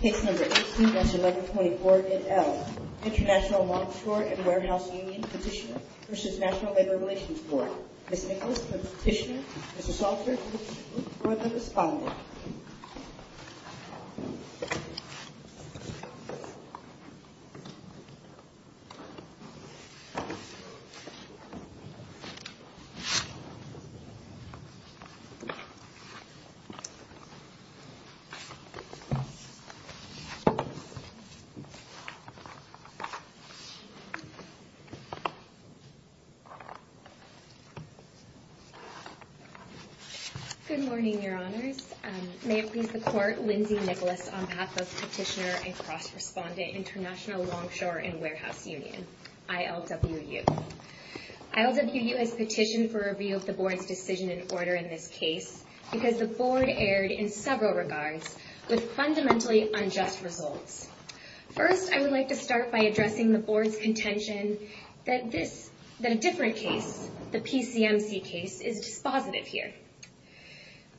Case No. 18-1124-NL International Longshore & Warehouse Union Petitioner v. National Labor Relations Board Ms. Nichols, the petitioner. Ms. Salter, the respondent. Good morning, Your Honors. May it please the Court, Lindsay Nichols on behalf of Petitioner and Cross Respondent, International Longshore & Warehouse Union, ILWU. ILWU has petitioned for review of the Board's decision and order in this case because the Board erred in several regards with fundamentally unjust results. First, I would like to start by addressing the Board's contention that a different case, the PCMC case, is dispositive here.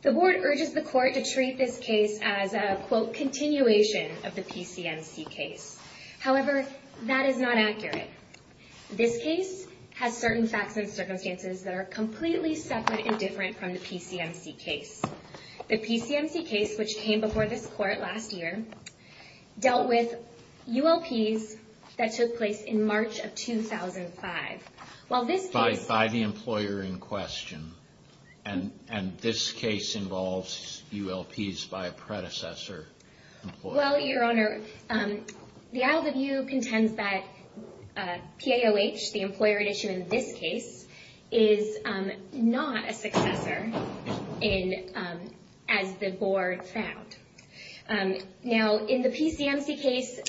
The Board urges the Court to treat this case as a, quote, continuation of the PCMC case. However, that is not accurate. This case has certain facts and circumstances that are completely separate and different from the PCMC case. The PCMC case, which came before this Court last year, dealt with ULPs that took place in March of 2005. While this case... By the employer in question. And this case involves ULPs by a predecessor employer. Well, Your Honor, the employer at issue in this case is not a successor as the Board found. Now, in the PCMC case...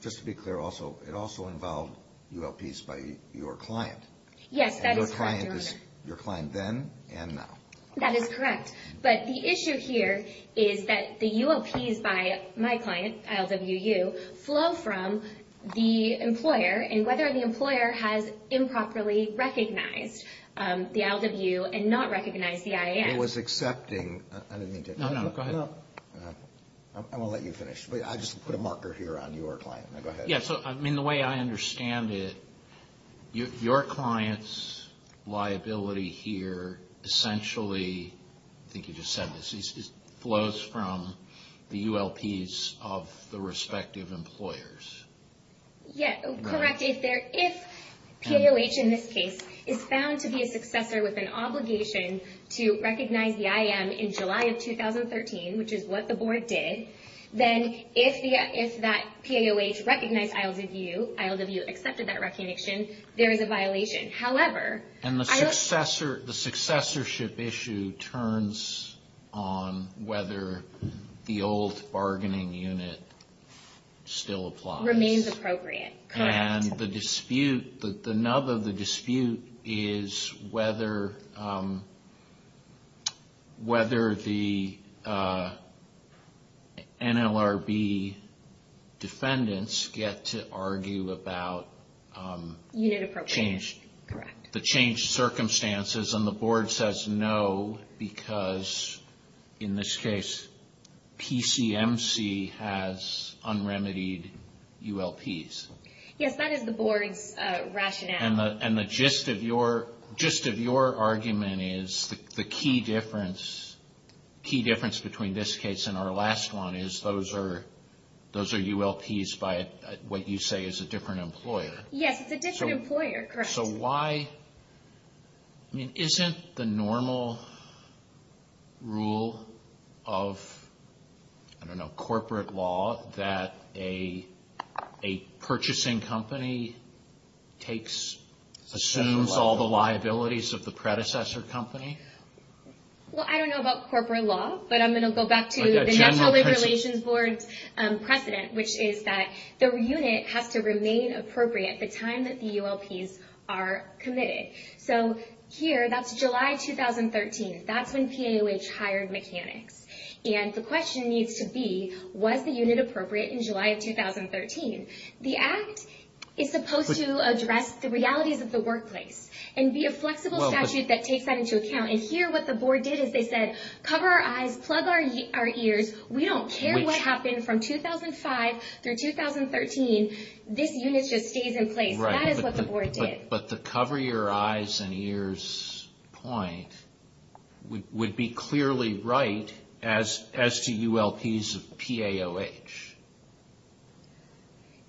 Just to be clear, it also involved ULPs by your client. Yes, that is correct, Your Honor. Your client then and now. That is correct. But the issue here is that the ULPs by my client, ILWU, flow from the employer and whether the employer has improperly recognized the ILWU and not recognized the IAS. It was accepting... I didn't mean to... No, no, go ahead. I'm going to let you finish. I just put a marker here on your client. Now, go ahead. The way I understand it, your client's liability here essentially... I think you just said this. It flows from the ULPs of the respective employers. Yes, correct. If POH in this case is found to be a successor with an obligation to recognize the IAM in July of 2013, which is what the Board did, then if that POH recognized ILWU, ILWU accepted that recognition, there is a violation. However... And the successorship issue turns on whether the old bargaining unit still applies. Remains appropriate. Correct. And the dispute, the nub of the dispute is whether the NLRB defendants get to argue about... Unit appropriation. ...change. Correct. The changed circumstances and the Board says no because in this case PCMC has unremitied ULPs. Yes, that is the Board's rationale. And the gist of your argument is the key difference between this case and our last one is those are ULPs by what you say is a different employer. Yes, it's a different employer. Correct. So why, I mean, isn't the normal rule of, I don't know, corporate law that a purchasing company assumes all the liabilities of the predecessor company? Well, I don't know about corporate law, but I'm going to go back to the NLRB's precedent, which is that the unit has to remain appropriate the time that the ULPs are committed. So here, that's July 2013. That's when PAOH hired mechanics. And the question needs to be, was the unit appropriate in July of 2013? The Act is supposed to address the realities of the workplace and be a flexible statute that takes that into account. And here what the Board did is they said, cover our eyes, plug our ears, we don't care what happened from 2005 through 2013, this unit just stays in place. That is what the Board did. But the cover your eyes and ears point would be clearly right as to ULPs of PAOH,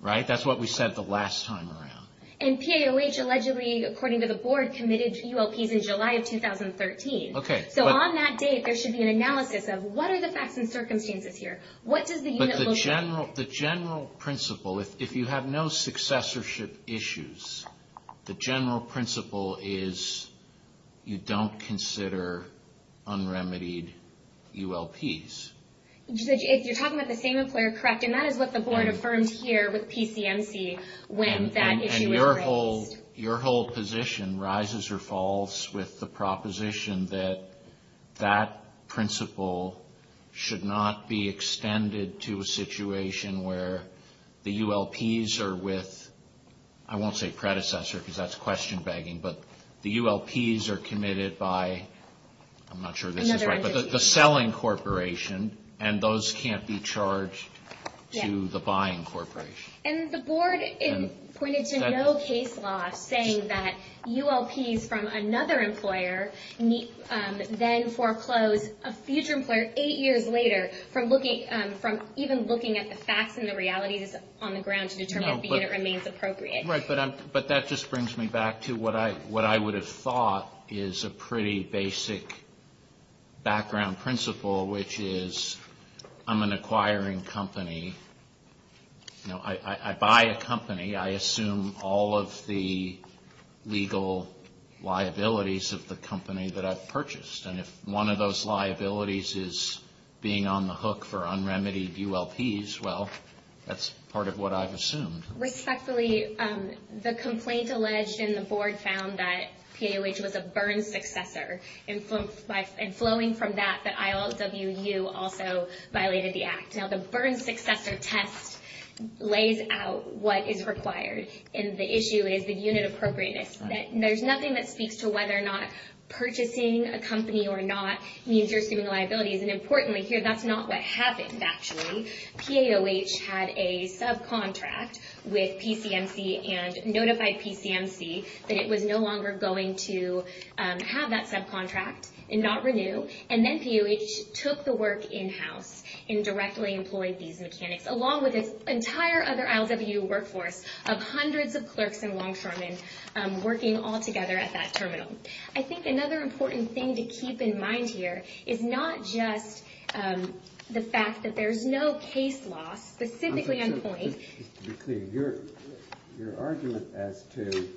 right? That's what we said the last time around. And PAOH allegedly, according to the Board, committed ULPs in July of 2013. So on that date, there should be an analysis of what are the facts and circumstances here? What does the unit look like? But the general principle, if you have no successorship issues, the general principle is you don't consider unremitied ULPs. If you're talking about the same employer, correct. And that is what the Board affirmed here with PCMC when that issue was raised. Your whole position rises or falls with the proposition that that principle should not be extended to a situation where the ULPs are with, I won't say predecessor because that's question begging, but the ULPs are committed by, I'm not sure this is right, but the selling corporation, and those can't be charged to the buying corporation. And the Board pointed to no case law saying that ULPs from another employer then foreclose a future employer eight years later from even looking at the facts and the realities on the ground to determine if the unit remains appropriate. Right. But that just brings me back to what I would have thought is a pretty basic background principle, which is I'm an acquiring company. I buy a company. I assume all of the legal liabilities of the company that I've purchased. And if one of those liabilities is being on the hook for unremitied ULPs, well, that's part of what I've assumed. Respectfully, the complaint alleged in the Board found that PAOH was a burn successor. And flowing from that, that ILWU also violated the act. Now, the burn successor test lays out what is required, and the issue is the unit appropriateness. There's nothing that speaks to whether or not purchasing a company or not means you're assuming liabilities. And importantly here, that's not what happened, actually. PAOH had a subcontract with PCMC and notified PCMC that it was no longer going to have that subcontract and not renew. And then PAOH took the work in-house and directly employed these mechanics, along with an entire other ILWU workforce of hundreds of clerks and longshoremen working all together at that terminal. I think another important thing to keep in mind here is not just the fact that there's no case loss, Just to be clear, your argument as to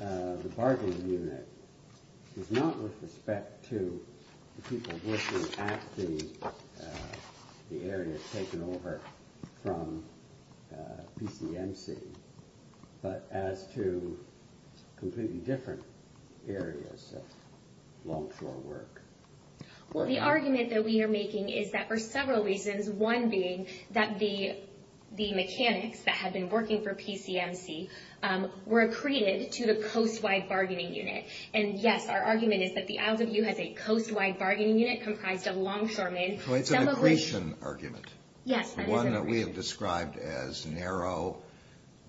the bargaining unit is not with respect to the people working at the area taken over from PCMC, but as to completely different areas of longshore work. Well, the argument that we are making is that for several reasons, one being that the mechanics that had been working for PCMC were accreted to the coast-wide bargaining unit. And yes, our argument is that the ILWU has a coast-wide bargaining unit comprised of longshoremen. So it's an accretion argument. Yes. One that we have described as narrow,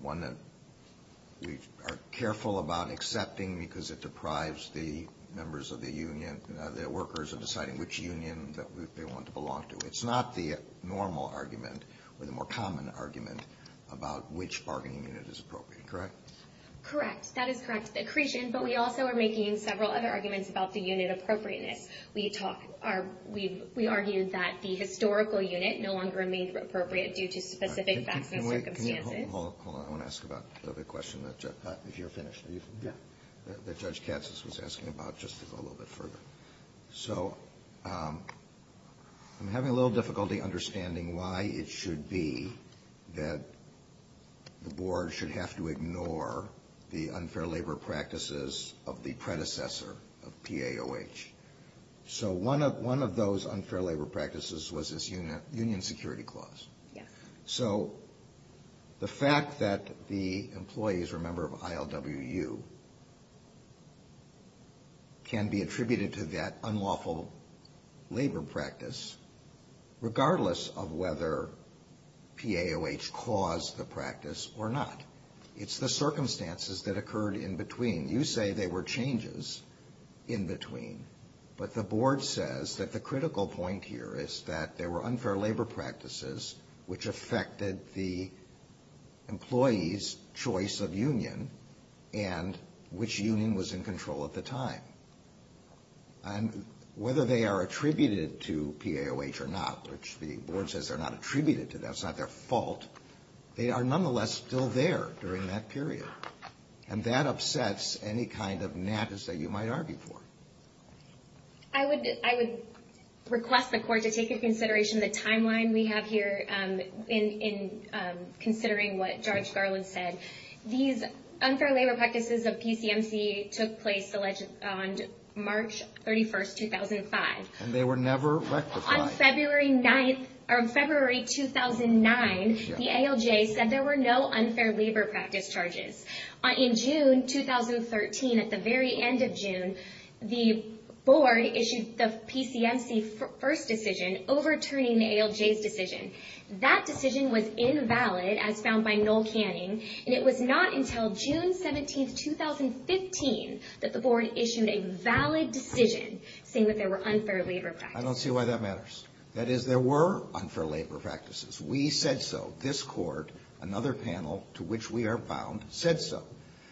one that we are careful about accepting because it deprives the members of the union, the workers of deciding which union they want to belong to. It's not the normal argument or the more common argument about which bargaining unit is appropriate, correct? Correct. That is correct. The accretion, but we also are making several other arguments about the unit appropriateness. We argue that the historical unit no longer remains appropriate due to specific facts and circumstances. Hold on. I want to ask about the other question, if you're finished. Yeah. That Judge Katz was asking about, just to go a little bit further. So I'm having a little difficulty understanding why it should be that the board should have to ignore the unfair labor practices of the predecessor of PAOH. So one of those unfair labor practices was this union security clause. Yeah. So the fact that the employees are a member of ILWU can be attributed to that unlawful labor practice, regardless of whether PAOH caused the practice or not. It's the circumstances that occurred in between. You say there were changes in between, but the board says that the critical point here is that there were unfair labor practices which affected the employees' choice of union and which union was in control at the time. And whether they are attributed to PAOH or not, which the board says they're not attributed to, that's not their fault, they are nonetheless still there during that period. And that upsets any kind of nappies that you might argue for. I would request the Court to take into consideration the timeline we have here in considering what Judge Garland said. These unfair labor practices of PCMC took place on March 31, 2005. And they were never rectified. On February 9th, or February 2009, the ALJ said there were no unfair labor practice charges. In June 2013, at the very end of June, the board issued the PCMC first decision, overturning the ALJ's decision. That decision was invalid, as found by Noel Canning, and it was not until June 17, 2015 that the board issued a valid decision saying that there were unfair labor practices. I don't see why that matters. That is, there were unfair labor practices. We said so. This Court, another panel to which we are bound, said so.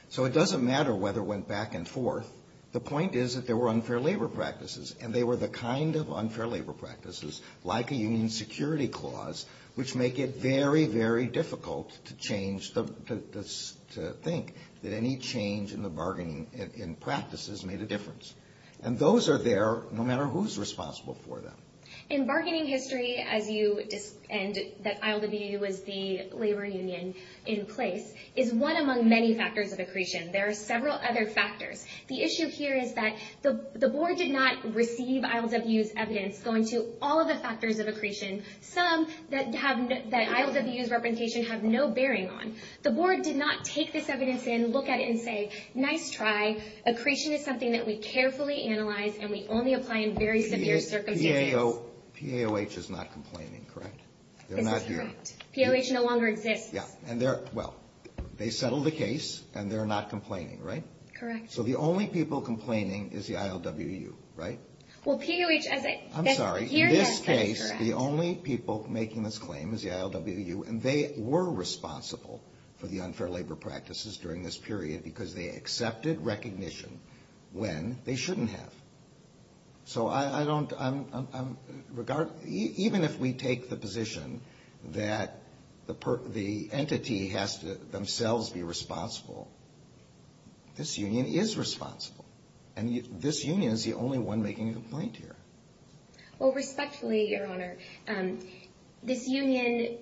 So it doesn't matter whether it went back and forth. The point is that there were unfair labor practices, and they were the kind of unfair labor practices, like a union security clause, which make it very, very difficult to think that any change in the bargaining practices made a difference. And those are there no matter who's responsible for them. In bargaining history, as you said that ILWU was the labor union in place, is one among many factors of accretion. There are several other factors. The issue here is that the board did not receive ILWU's evidence going to all of the factors of accretion, some that ILWU's representation have no bearing on. The board did not take this evidence in, look at it, and say, nice try. Accretion is something that we carefully analyze, and we only apply in very severe circumstances. PAOH is not complaining, correct? They're not here. PAOH no longer exists. Yeah. And they're, well, they settled the case, and they're not complaining, right? Correct. So the only people complaining is the ILWU, right? Well, PAOH, as I said, here, yes, that is correct. I'm sorry. In this case, the only people making this claim is the ILWU, and they were responsible for the unfair labor practices during this period because they accepted recognition when they shouldn't have. So I don't, I'm, even if we take the position that the entity has to themselves be responsible, this union is responsible, and this union is the only one making a complaint here. Well, respectfully, Your Honor, this union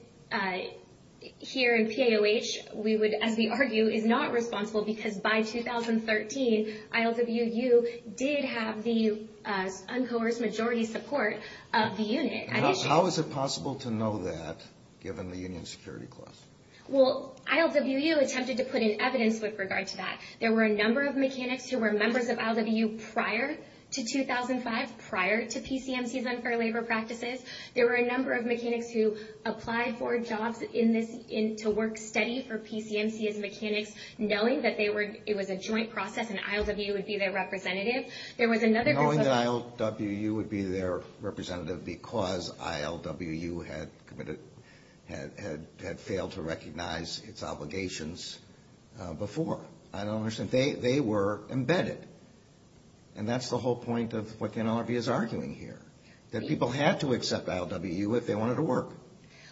here in PAOH, we would, as we argue, is not responsible because by 2013, ILWU did have the uncoerced majority support of the unit. How is it possible to know that given the union security clause? Well, ILWU attempted to put in evidence with regard to that. There were a number of mechanics who were members of ILWU prior to 2005, prior to PCMC's unfair labor practices. There were a number of mechanics who applied for jobs in this, to work steady for PCMC as mechanics, knowing that they were, it was a joint process, and ILWU would be their representative. There was another group of... Knowing that ILWU would be their representative because ILWU had committed, had failed to recognize its obligations before. I don't understand. They were embedded, and that's the whole point of what the NLRB is arguing here, that people had to accept ILWU if they wanted to work.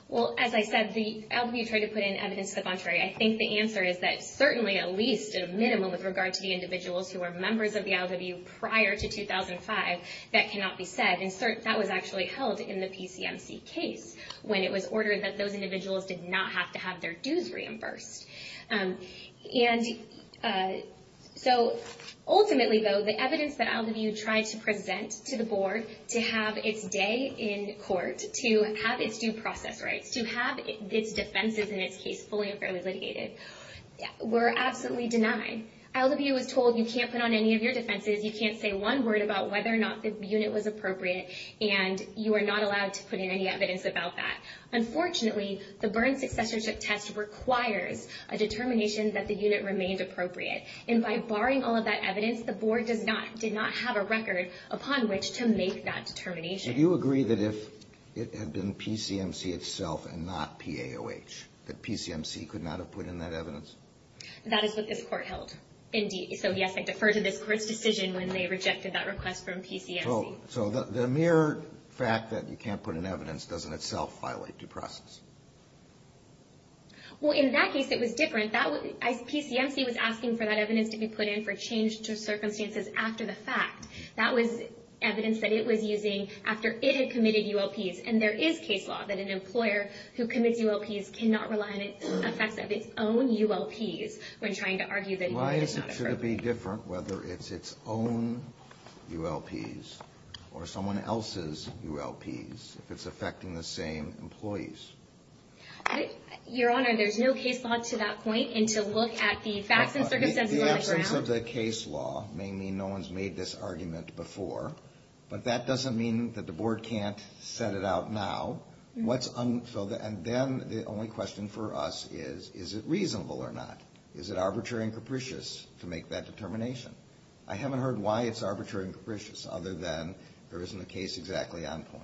Well, as I said, ILWU tried to put in evidence to the contrary. I think the answer is that certainly, at least, at a minimum, with regard to the individuals who were members of the ILWU prior to 2005, that cannot be said. And that was actually held in the PCMC case, when it was ordered that those individuals did not have to have their dues reimbursed. And so ultimately, though, the evidence that ILWU tried to present to the board to have its day in court, to have its due process rights, to have its defenses in its case fully and fairly litigated, were absolutely denied. ILWU was told, you can't put on any of your defenses, you can't say one word about whether or not the unit was appropriate, and you are not allowed to put in any evidence about that. Unfortunately, the Byrne Successorship Test requires a determination that the unit remained appropriate. And by barring all of that evidence, the board did not have a record upon which to make that determination. Do you agree that if it had been PCMC itself and not PAOH, that PCMC could not have put in that evidence? That is what this court held. Indeed. So, yes, I defer to this court's decision when they rejected that request from PCMC. So the mere fact that you can't put in evidence doesn't itself violate due process? Well, in that case, it was different. PCMC was asking for that evidence to be put in for change to circumstances after the fact. That was evidence that it was using after it had committed ULPs. And there is case law that an employer who commits ULPs cannot rely on the effects of its own ULPs when trying to argue that it did not occur. And should it be different whether it's its own ULPs or someone else's ULPs, if it's affecting the same employees? Your Honor, there's no case law to that point. And to look at the facts and circumstances on the ground. The absence of the case law may mean no one's made this argument before. But that doesn't mean that the board can't set it out now. And then the only question for us is, is it reasonable or not? Is it arbitrary and capricious to make that determination? I haven't heard why it's arbitrary and capricious, other than there isn't a case exactly on point.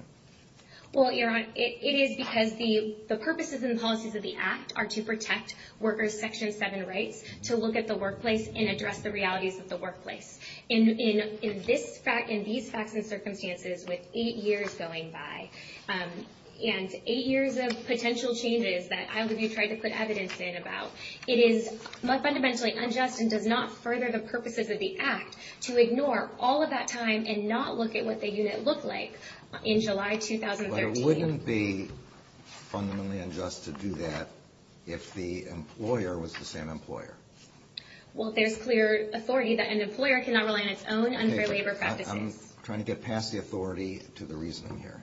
Well, Your Honor, it is because the purposes and policies of the Act are to protect workers' Section 7 rights to look at the workplace and address the realities of the workplace. In these facts and circumstances, with eight years going by, and eight years of potential changes that I believe you tried to put evidence in about, it is fundamentally unjust and does not further the purposes of the Act to ignore all of that time and not look at what the unit looked like in July 2013. But it wouldn't be fundamentally unjust to do that if the employer was the same employer. Well, there's clear authority that an employer cannot rely on its own unfair labor practices. I'm trying to get past the authority to the reasoning here.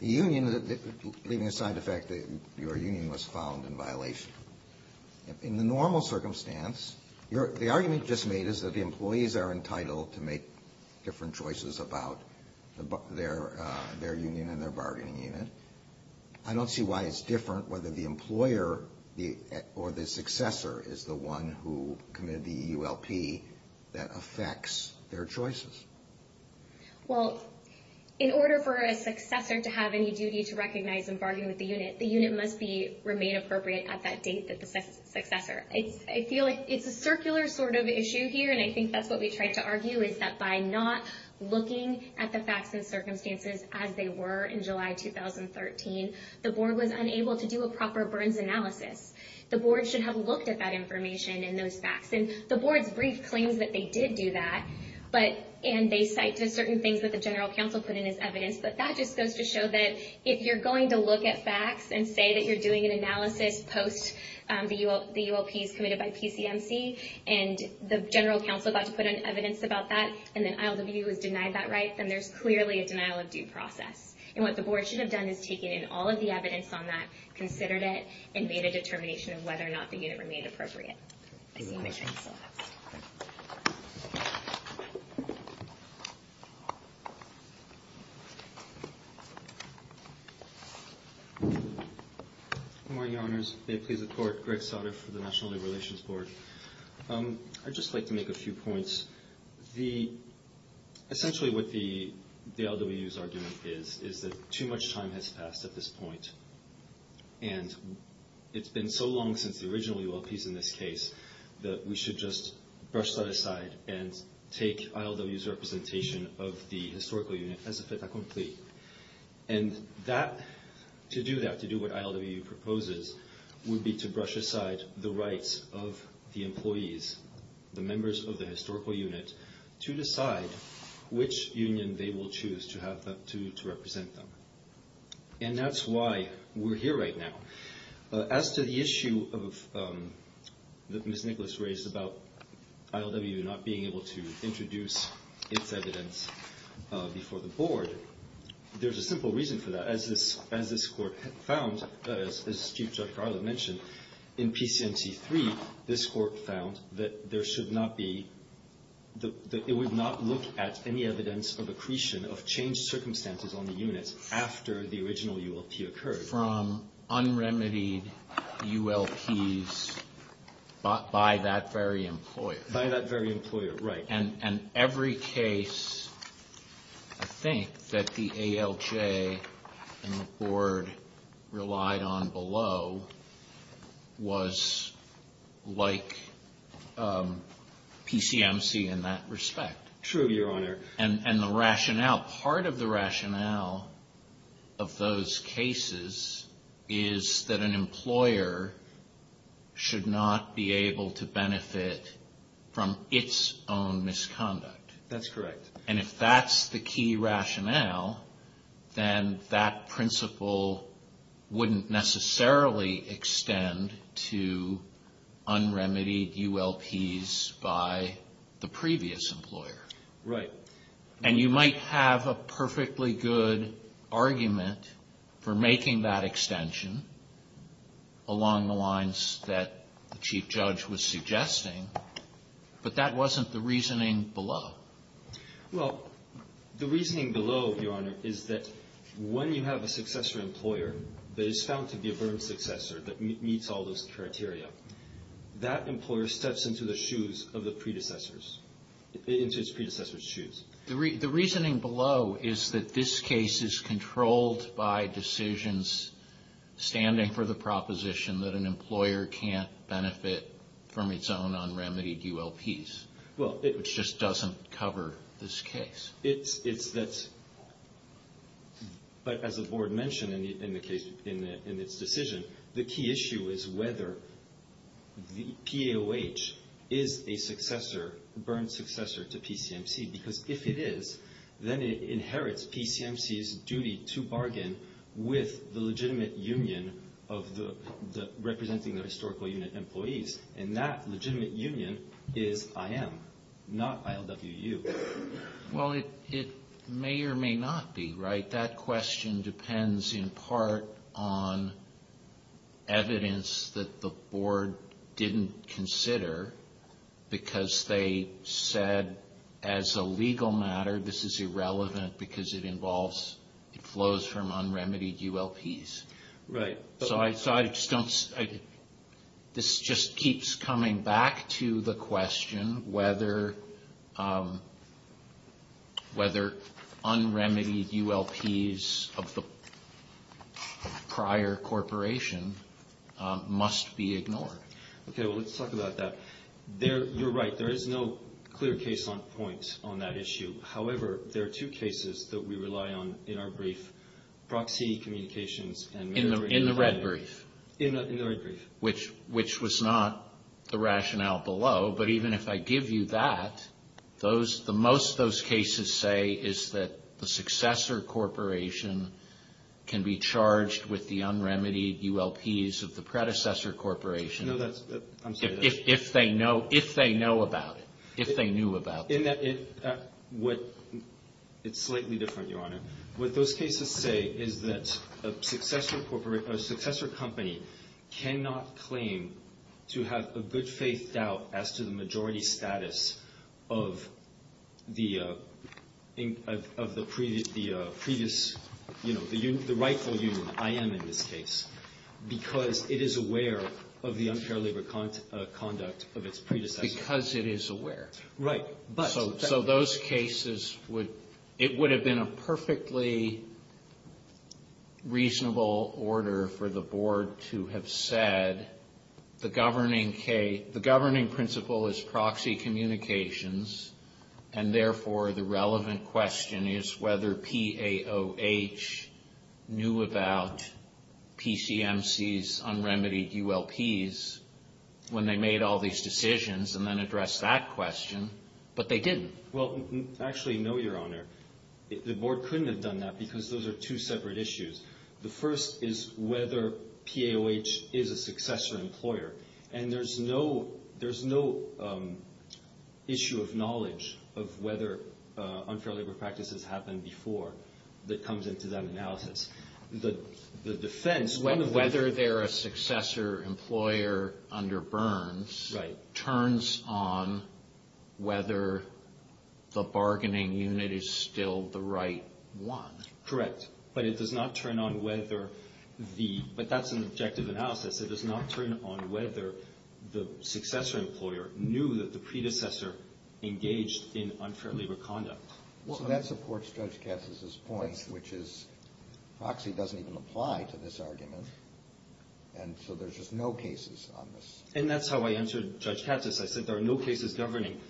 The union, leaving aside the fact that your union was found in violation, in the normal circumstance, the argument just made is that the employees are entitled to make different choices about their union and their bargaining unit. I don't see why it's different whether the employer or the successor is the one who committed the EULP that affects their choices. Well, in order for a successor to have any duty to recognize and bargain with the unit, the unit must remain appropriate at that date that the successor. I feel like it's a circular sort of issue here, and I think that's what we tried to argue, is that by not looking at the facts and circumstances as they were in July 2013, the board was unable to do a proper burns analysis. The board should have looked at that information and those facts. The board's brief claims that they did do that, and they cite certain things that the General Counsel put in as evidence, but that just goes to show that if you're going to look at facts and say that you're doing an analysis post the EULPs committed by PCMC, and the General Counsel got to put in evidence about that, and then ILWU has denied that right, then there's clearly a denial of due process. What the board should have done is taken in all of the evidence on that, considered it, and made a determination of whether or not the unit remained appropriate. I see my time is up. Good morning, Your Honors. May it please the Court. Greg Sautter for the National Labor Relations Board. I'd just like to make a few points. Essentially what the ILWU's argument is is that too much time has passed at this point, and it's been so long since the original EULPs in this case that we should just brush that aside and take ILWU's representation of the historical unit as a fait accompli. To do that, to do what ILWU proposes, would be to brush aside the rights of the employees, the members of the historical unit, to decide which union they will choose to represent them. And that's why we're here right now. As to the issue that Ms. Nicholas raised about ILWU not being able to introduce its evidence before the board, there's a simple reason for that. As this Court found, as Chief Judge Garland mentioned, in PCMT3, this Court found that there should not be that it would not look at any evidence of accretion of changed circumstances on the unit after the original EULP occurred. From unremitied EULPs by that very employer. By that very employer, right. And every case, I think, that the ALJ and the board relied on below was like PCMC in that respect. True, Your Honor. And the rationale, part of the rationale of those cases is that an employer should not be able to benefit from its own misconduct. That's correct. And if that's the key rationale, then that principle wouldn't necessarily extend to unremitied EULPs by the previous employer. Right. And you might have a perfectly good argument for making that extension along the lines that the Chief Judge was suggesting, but that wasn't the reasoning below. Well, the reasoning below, Your Honor, is that when you have a successor employer that is found to be a burned successor that meets all those criteria, that employer steps into the shoes of the predecessors, into its predecessors' shoes. The reasoning below is that this case is controlled by decisions standing for the proposition that an employer can't benefit from its own unremitied EULPs, which just doesn't cover this case. But as the board mentioned in its decision, the key issue is whether the PAOH is a burned successor to PCMC, because if it is, then it inherits PCMC's duty to bargain with the legitimate union representing the historical unit employees, and that legitimate union is IM, not ILWU. Well, it may or may not be, right? That question depends in part on evidence that the board didn't consider, because they said as a legal matter this is irrelevant because it flows from unremitied EULPs. Right. So this just keeps coming back to the question whether unremitied EULPs of the prior corporation must be ignored. Okay, well, let's talk about that. You're right. There is no clear case on point on that issue. However, there are two cases that we rely on in our brief. Proxy communications. In the red brief. In the red brief. Which was not the rationale below, but even if I give you that, most of those cases say is that the successor corporation can be charged with the unremitied EULPs of the predecessor corporation. I'm sorry. If they know about it, if they knew about it. In that it's slightly different, Your Honor. What those cases say is that a successor company cannot claim to have a good faith doubt as to the majority status of the previous, you know, the rightful union, IM in this case, because it is aware of the unfair labor conduct of its predecessor. Because it is aware. Right. So those cases would, it would have been a perfectly reasonable order for the board to have said, the governing principle is proxy communications, and therefore the relevant question is whether PAOH knew about PCMC's unremitied EULPs when they made all these decisions and then addressed that question. But they didn't. Well, actually, no, Your Honor. The board couldn't have done that because those are two separate issues. The first is whether PAOH is a successor employer. And there's no issue of knowledge of whether unfair labor practice has happened before that comes into that analysis. The defense of whether they're a successor employer under Burns turns on whether the bargaining unit is still the right one. Correct. But it does not turn on whether the, but that's an objective analysis. It does not turn on whether the successor employer knew that the predecessor engaged in unfair labor conduct. So that supports Judge Katz's point, which is proxy doesn't even apply to this argument. And so there's just no cases on this. And that's how I answered Judge Katz's. I said there are no cases governing.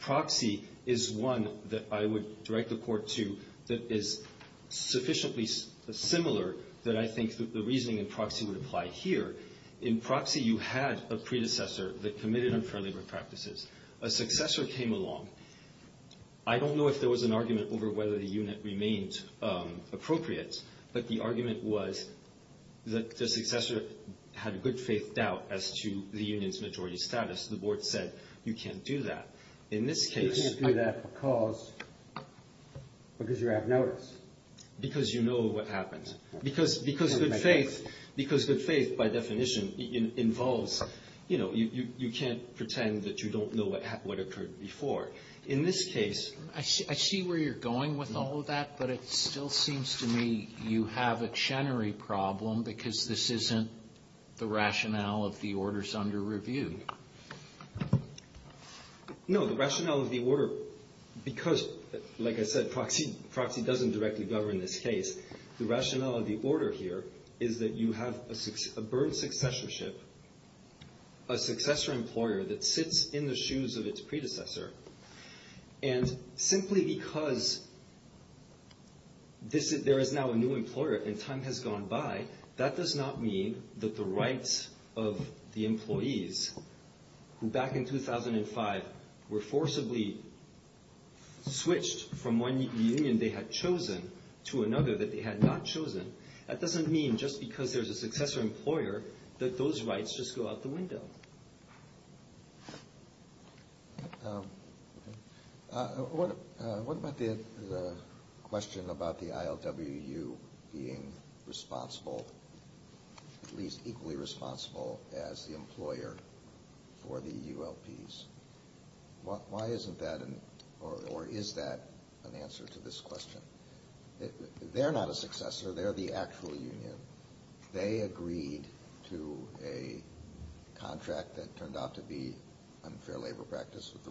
Proxy is one that I would direct the Court to that is sufficiently similar that I think the reasoning in proxy would apply here. In proxy, you had a predecessor that committed unfair labor practices. A successor came along. I don't know if there was an argument over whether the unit remained appropriate, but the argument was that the successor had good faith doubt as to the union's majority status. The Board said, you can't do that. In this case. You can't do that because you're at notice. Because you know what happened. Because good faith by definition involves, you know, you can't pretend that you don't know what occurred before. In this case. I see where you're going with all of that. But it still seems to me you have a Chenery problem because this isn't the rationale of the orders under review. No, the rationale of the order, because like I said, proxy doesn't directly govern this case. The rationale of the order here is that you have a burnt successorship, a successor employer that sits in the shoes of its predecessor. And simply because there is now a new employer and time has gone by, that does not mean that the rights of the employees who back in 2005 were forcibly switched from one union they had chosen to another that they had not chosen. That doesn't mean just because there's a successor employer that those rights just go out the window. What about the question about the ILWU being responsible, at least equally responsible as the employer for the ULPs? Why isn't that or is that an answer to this question? They're not a successor. They're the actual union. They agreed to a contract that turned out to be unfair labor practice with the Royal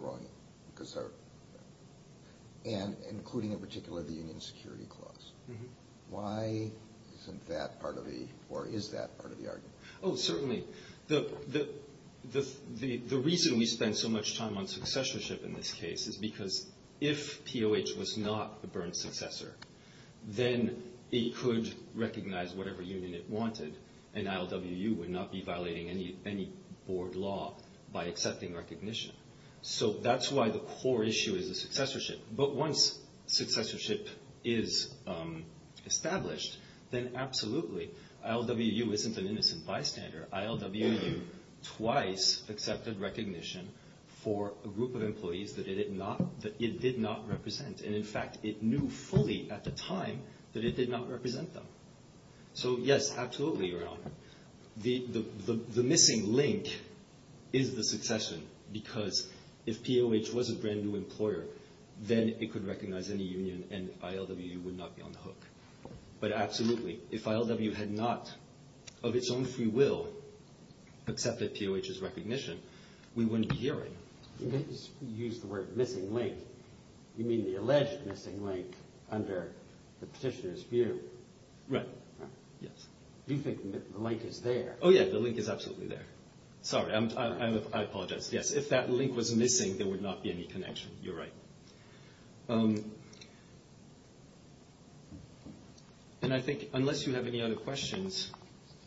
Union, including in particular the union security clause. Why isn't that part of the or is that part of the argument? Oh, certainly. The reason we spend so much time on successorship in this case is because if POH was not a burnt successor, then it could recognize whatever union it wanted, and ILWU would not be violating any board law by accepting recognition. So that's why the core issue is a successorship. But once successorship is established, then absolutely ILWU isn't an innocent bystander. ILWU twice accepted recognition for a group of employees that it did not represent. And in fact, it knew fully at the time that it did not represent them. The missing link is the succession because if POH was a brand new employer, then it could recognize any union and ILWU would not be on the hook. But absolutely, if ILWU had not of its own free will accepted POH's recognition, we wouldn't be hearing. You used the word missing link. You mean the alleged missing link under the petitioner's view? Right. Yes. You think the link is there? Oh, yeah. The link is absolutely there. Sorry. I apologize. Yes. If that link was missing, there would not be any connection. You're right. And I think unless you have any other questions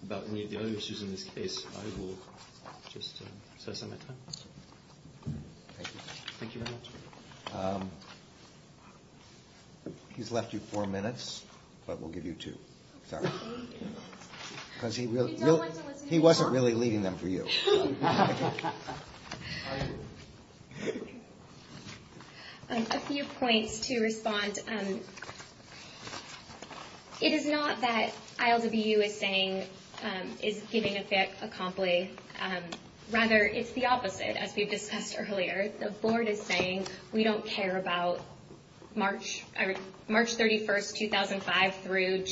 about any of the other issues in this case, I will just set aside my time. Thank you. Thank you very much. He's left you four minutes, but we'll give you two. Sorry. Because he wasn't really leaving them for you. A few points to respond. It is not that ILWU is saying is giving a fit, a compli. Rather, it's the opposite, as we've discussed earlier. The board is saying we don't care about March 31st, 2005 through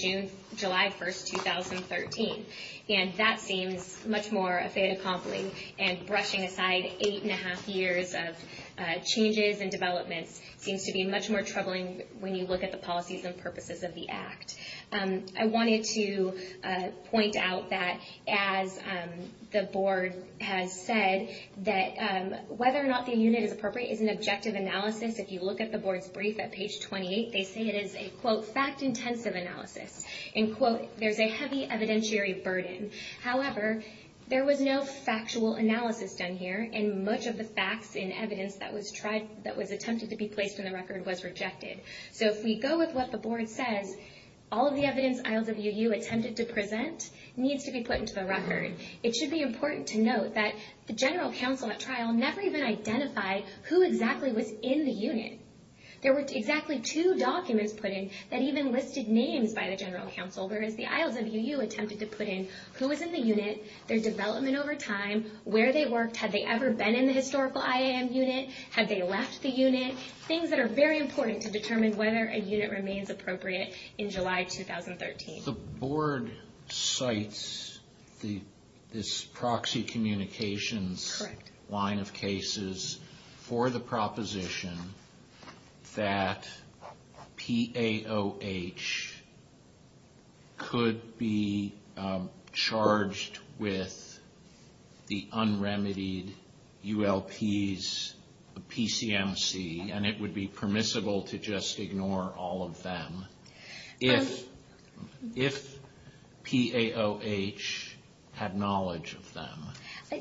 July 1st, 2013. And that seems much more a fait accompli. And brushing aside eight and a half years of changes and developments seems to be much more troubling when you look at the policies and purposes of the act. I wanted to point out that, as the board has said, that whether or not the unit is appropriate is an objective analysis. If you look at the board's brief at page 28, they say it is a, quote, fact-intensive analysis. And, quote, there's a heavy evidentiary burden. However, there was no factual analysis done here, and much of the facts and evidence that was attempted to be placed in the record was rejected. So if we go with what the board says, all of the evidence ILWU attempted to present needs to be put into the record. It should be important to note that the general counsel at trial never even identified who exactly was in the unit. There were exactly two documents put in that even listed names by the general counsel, whereas the ILWU attempted to put in who was in the unit, their development over time, where they worked, had they ever been in the historical IAM unit, had they left the unit. Things that are very important to determine whether a unit remains appropriate in July 2013. The board cites this proxy communications line of cases for the proposition that PAOH could be charged with the unremitied ULPs PCMC, and it would be permissible to just ignore all of them. If PAOH had knowledge of them,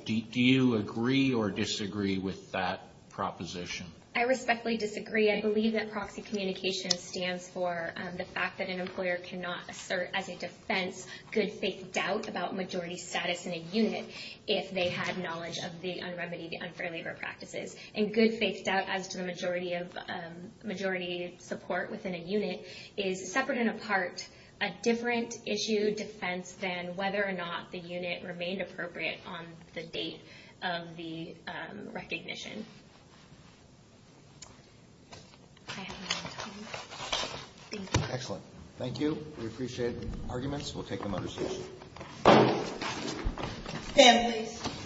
do you agree or disagree with that proposition? I respectfully disagree. I believe that proxy communication stands for the fact that an employer cannot assert as a defense good faith doubt about majority status in a unit if they had knowledge of the unremitied unfair labor practices. And good faith doubt as to the majority support within a unit is separate and apart a different issue defense than whether or not the unit remained appropriate on the date of the recognition. I have no more time. Thank you. Excellent. Thank you. We appreciate the arguments. We'll take them under session. Stand please.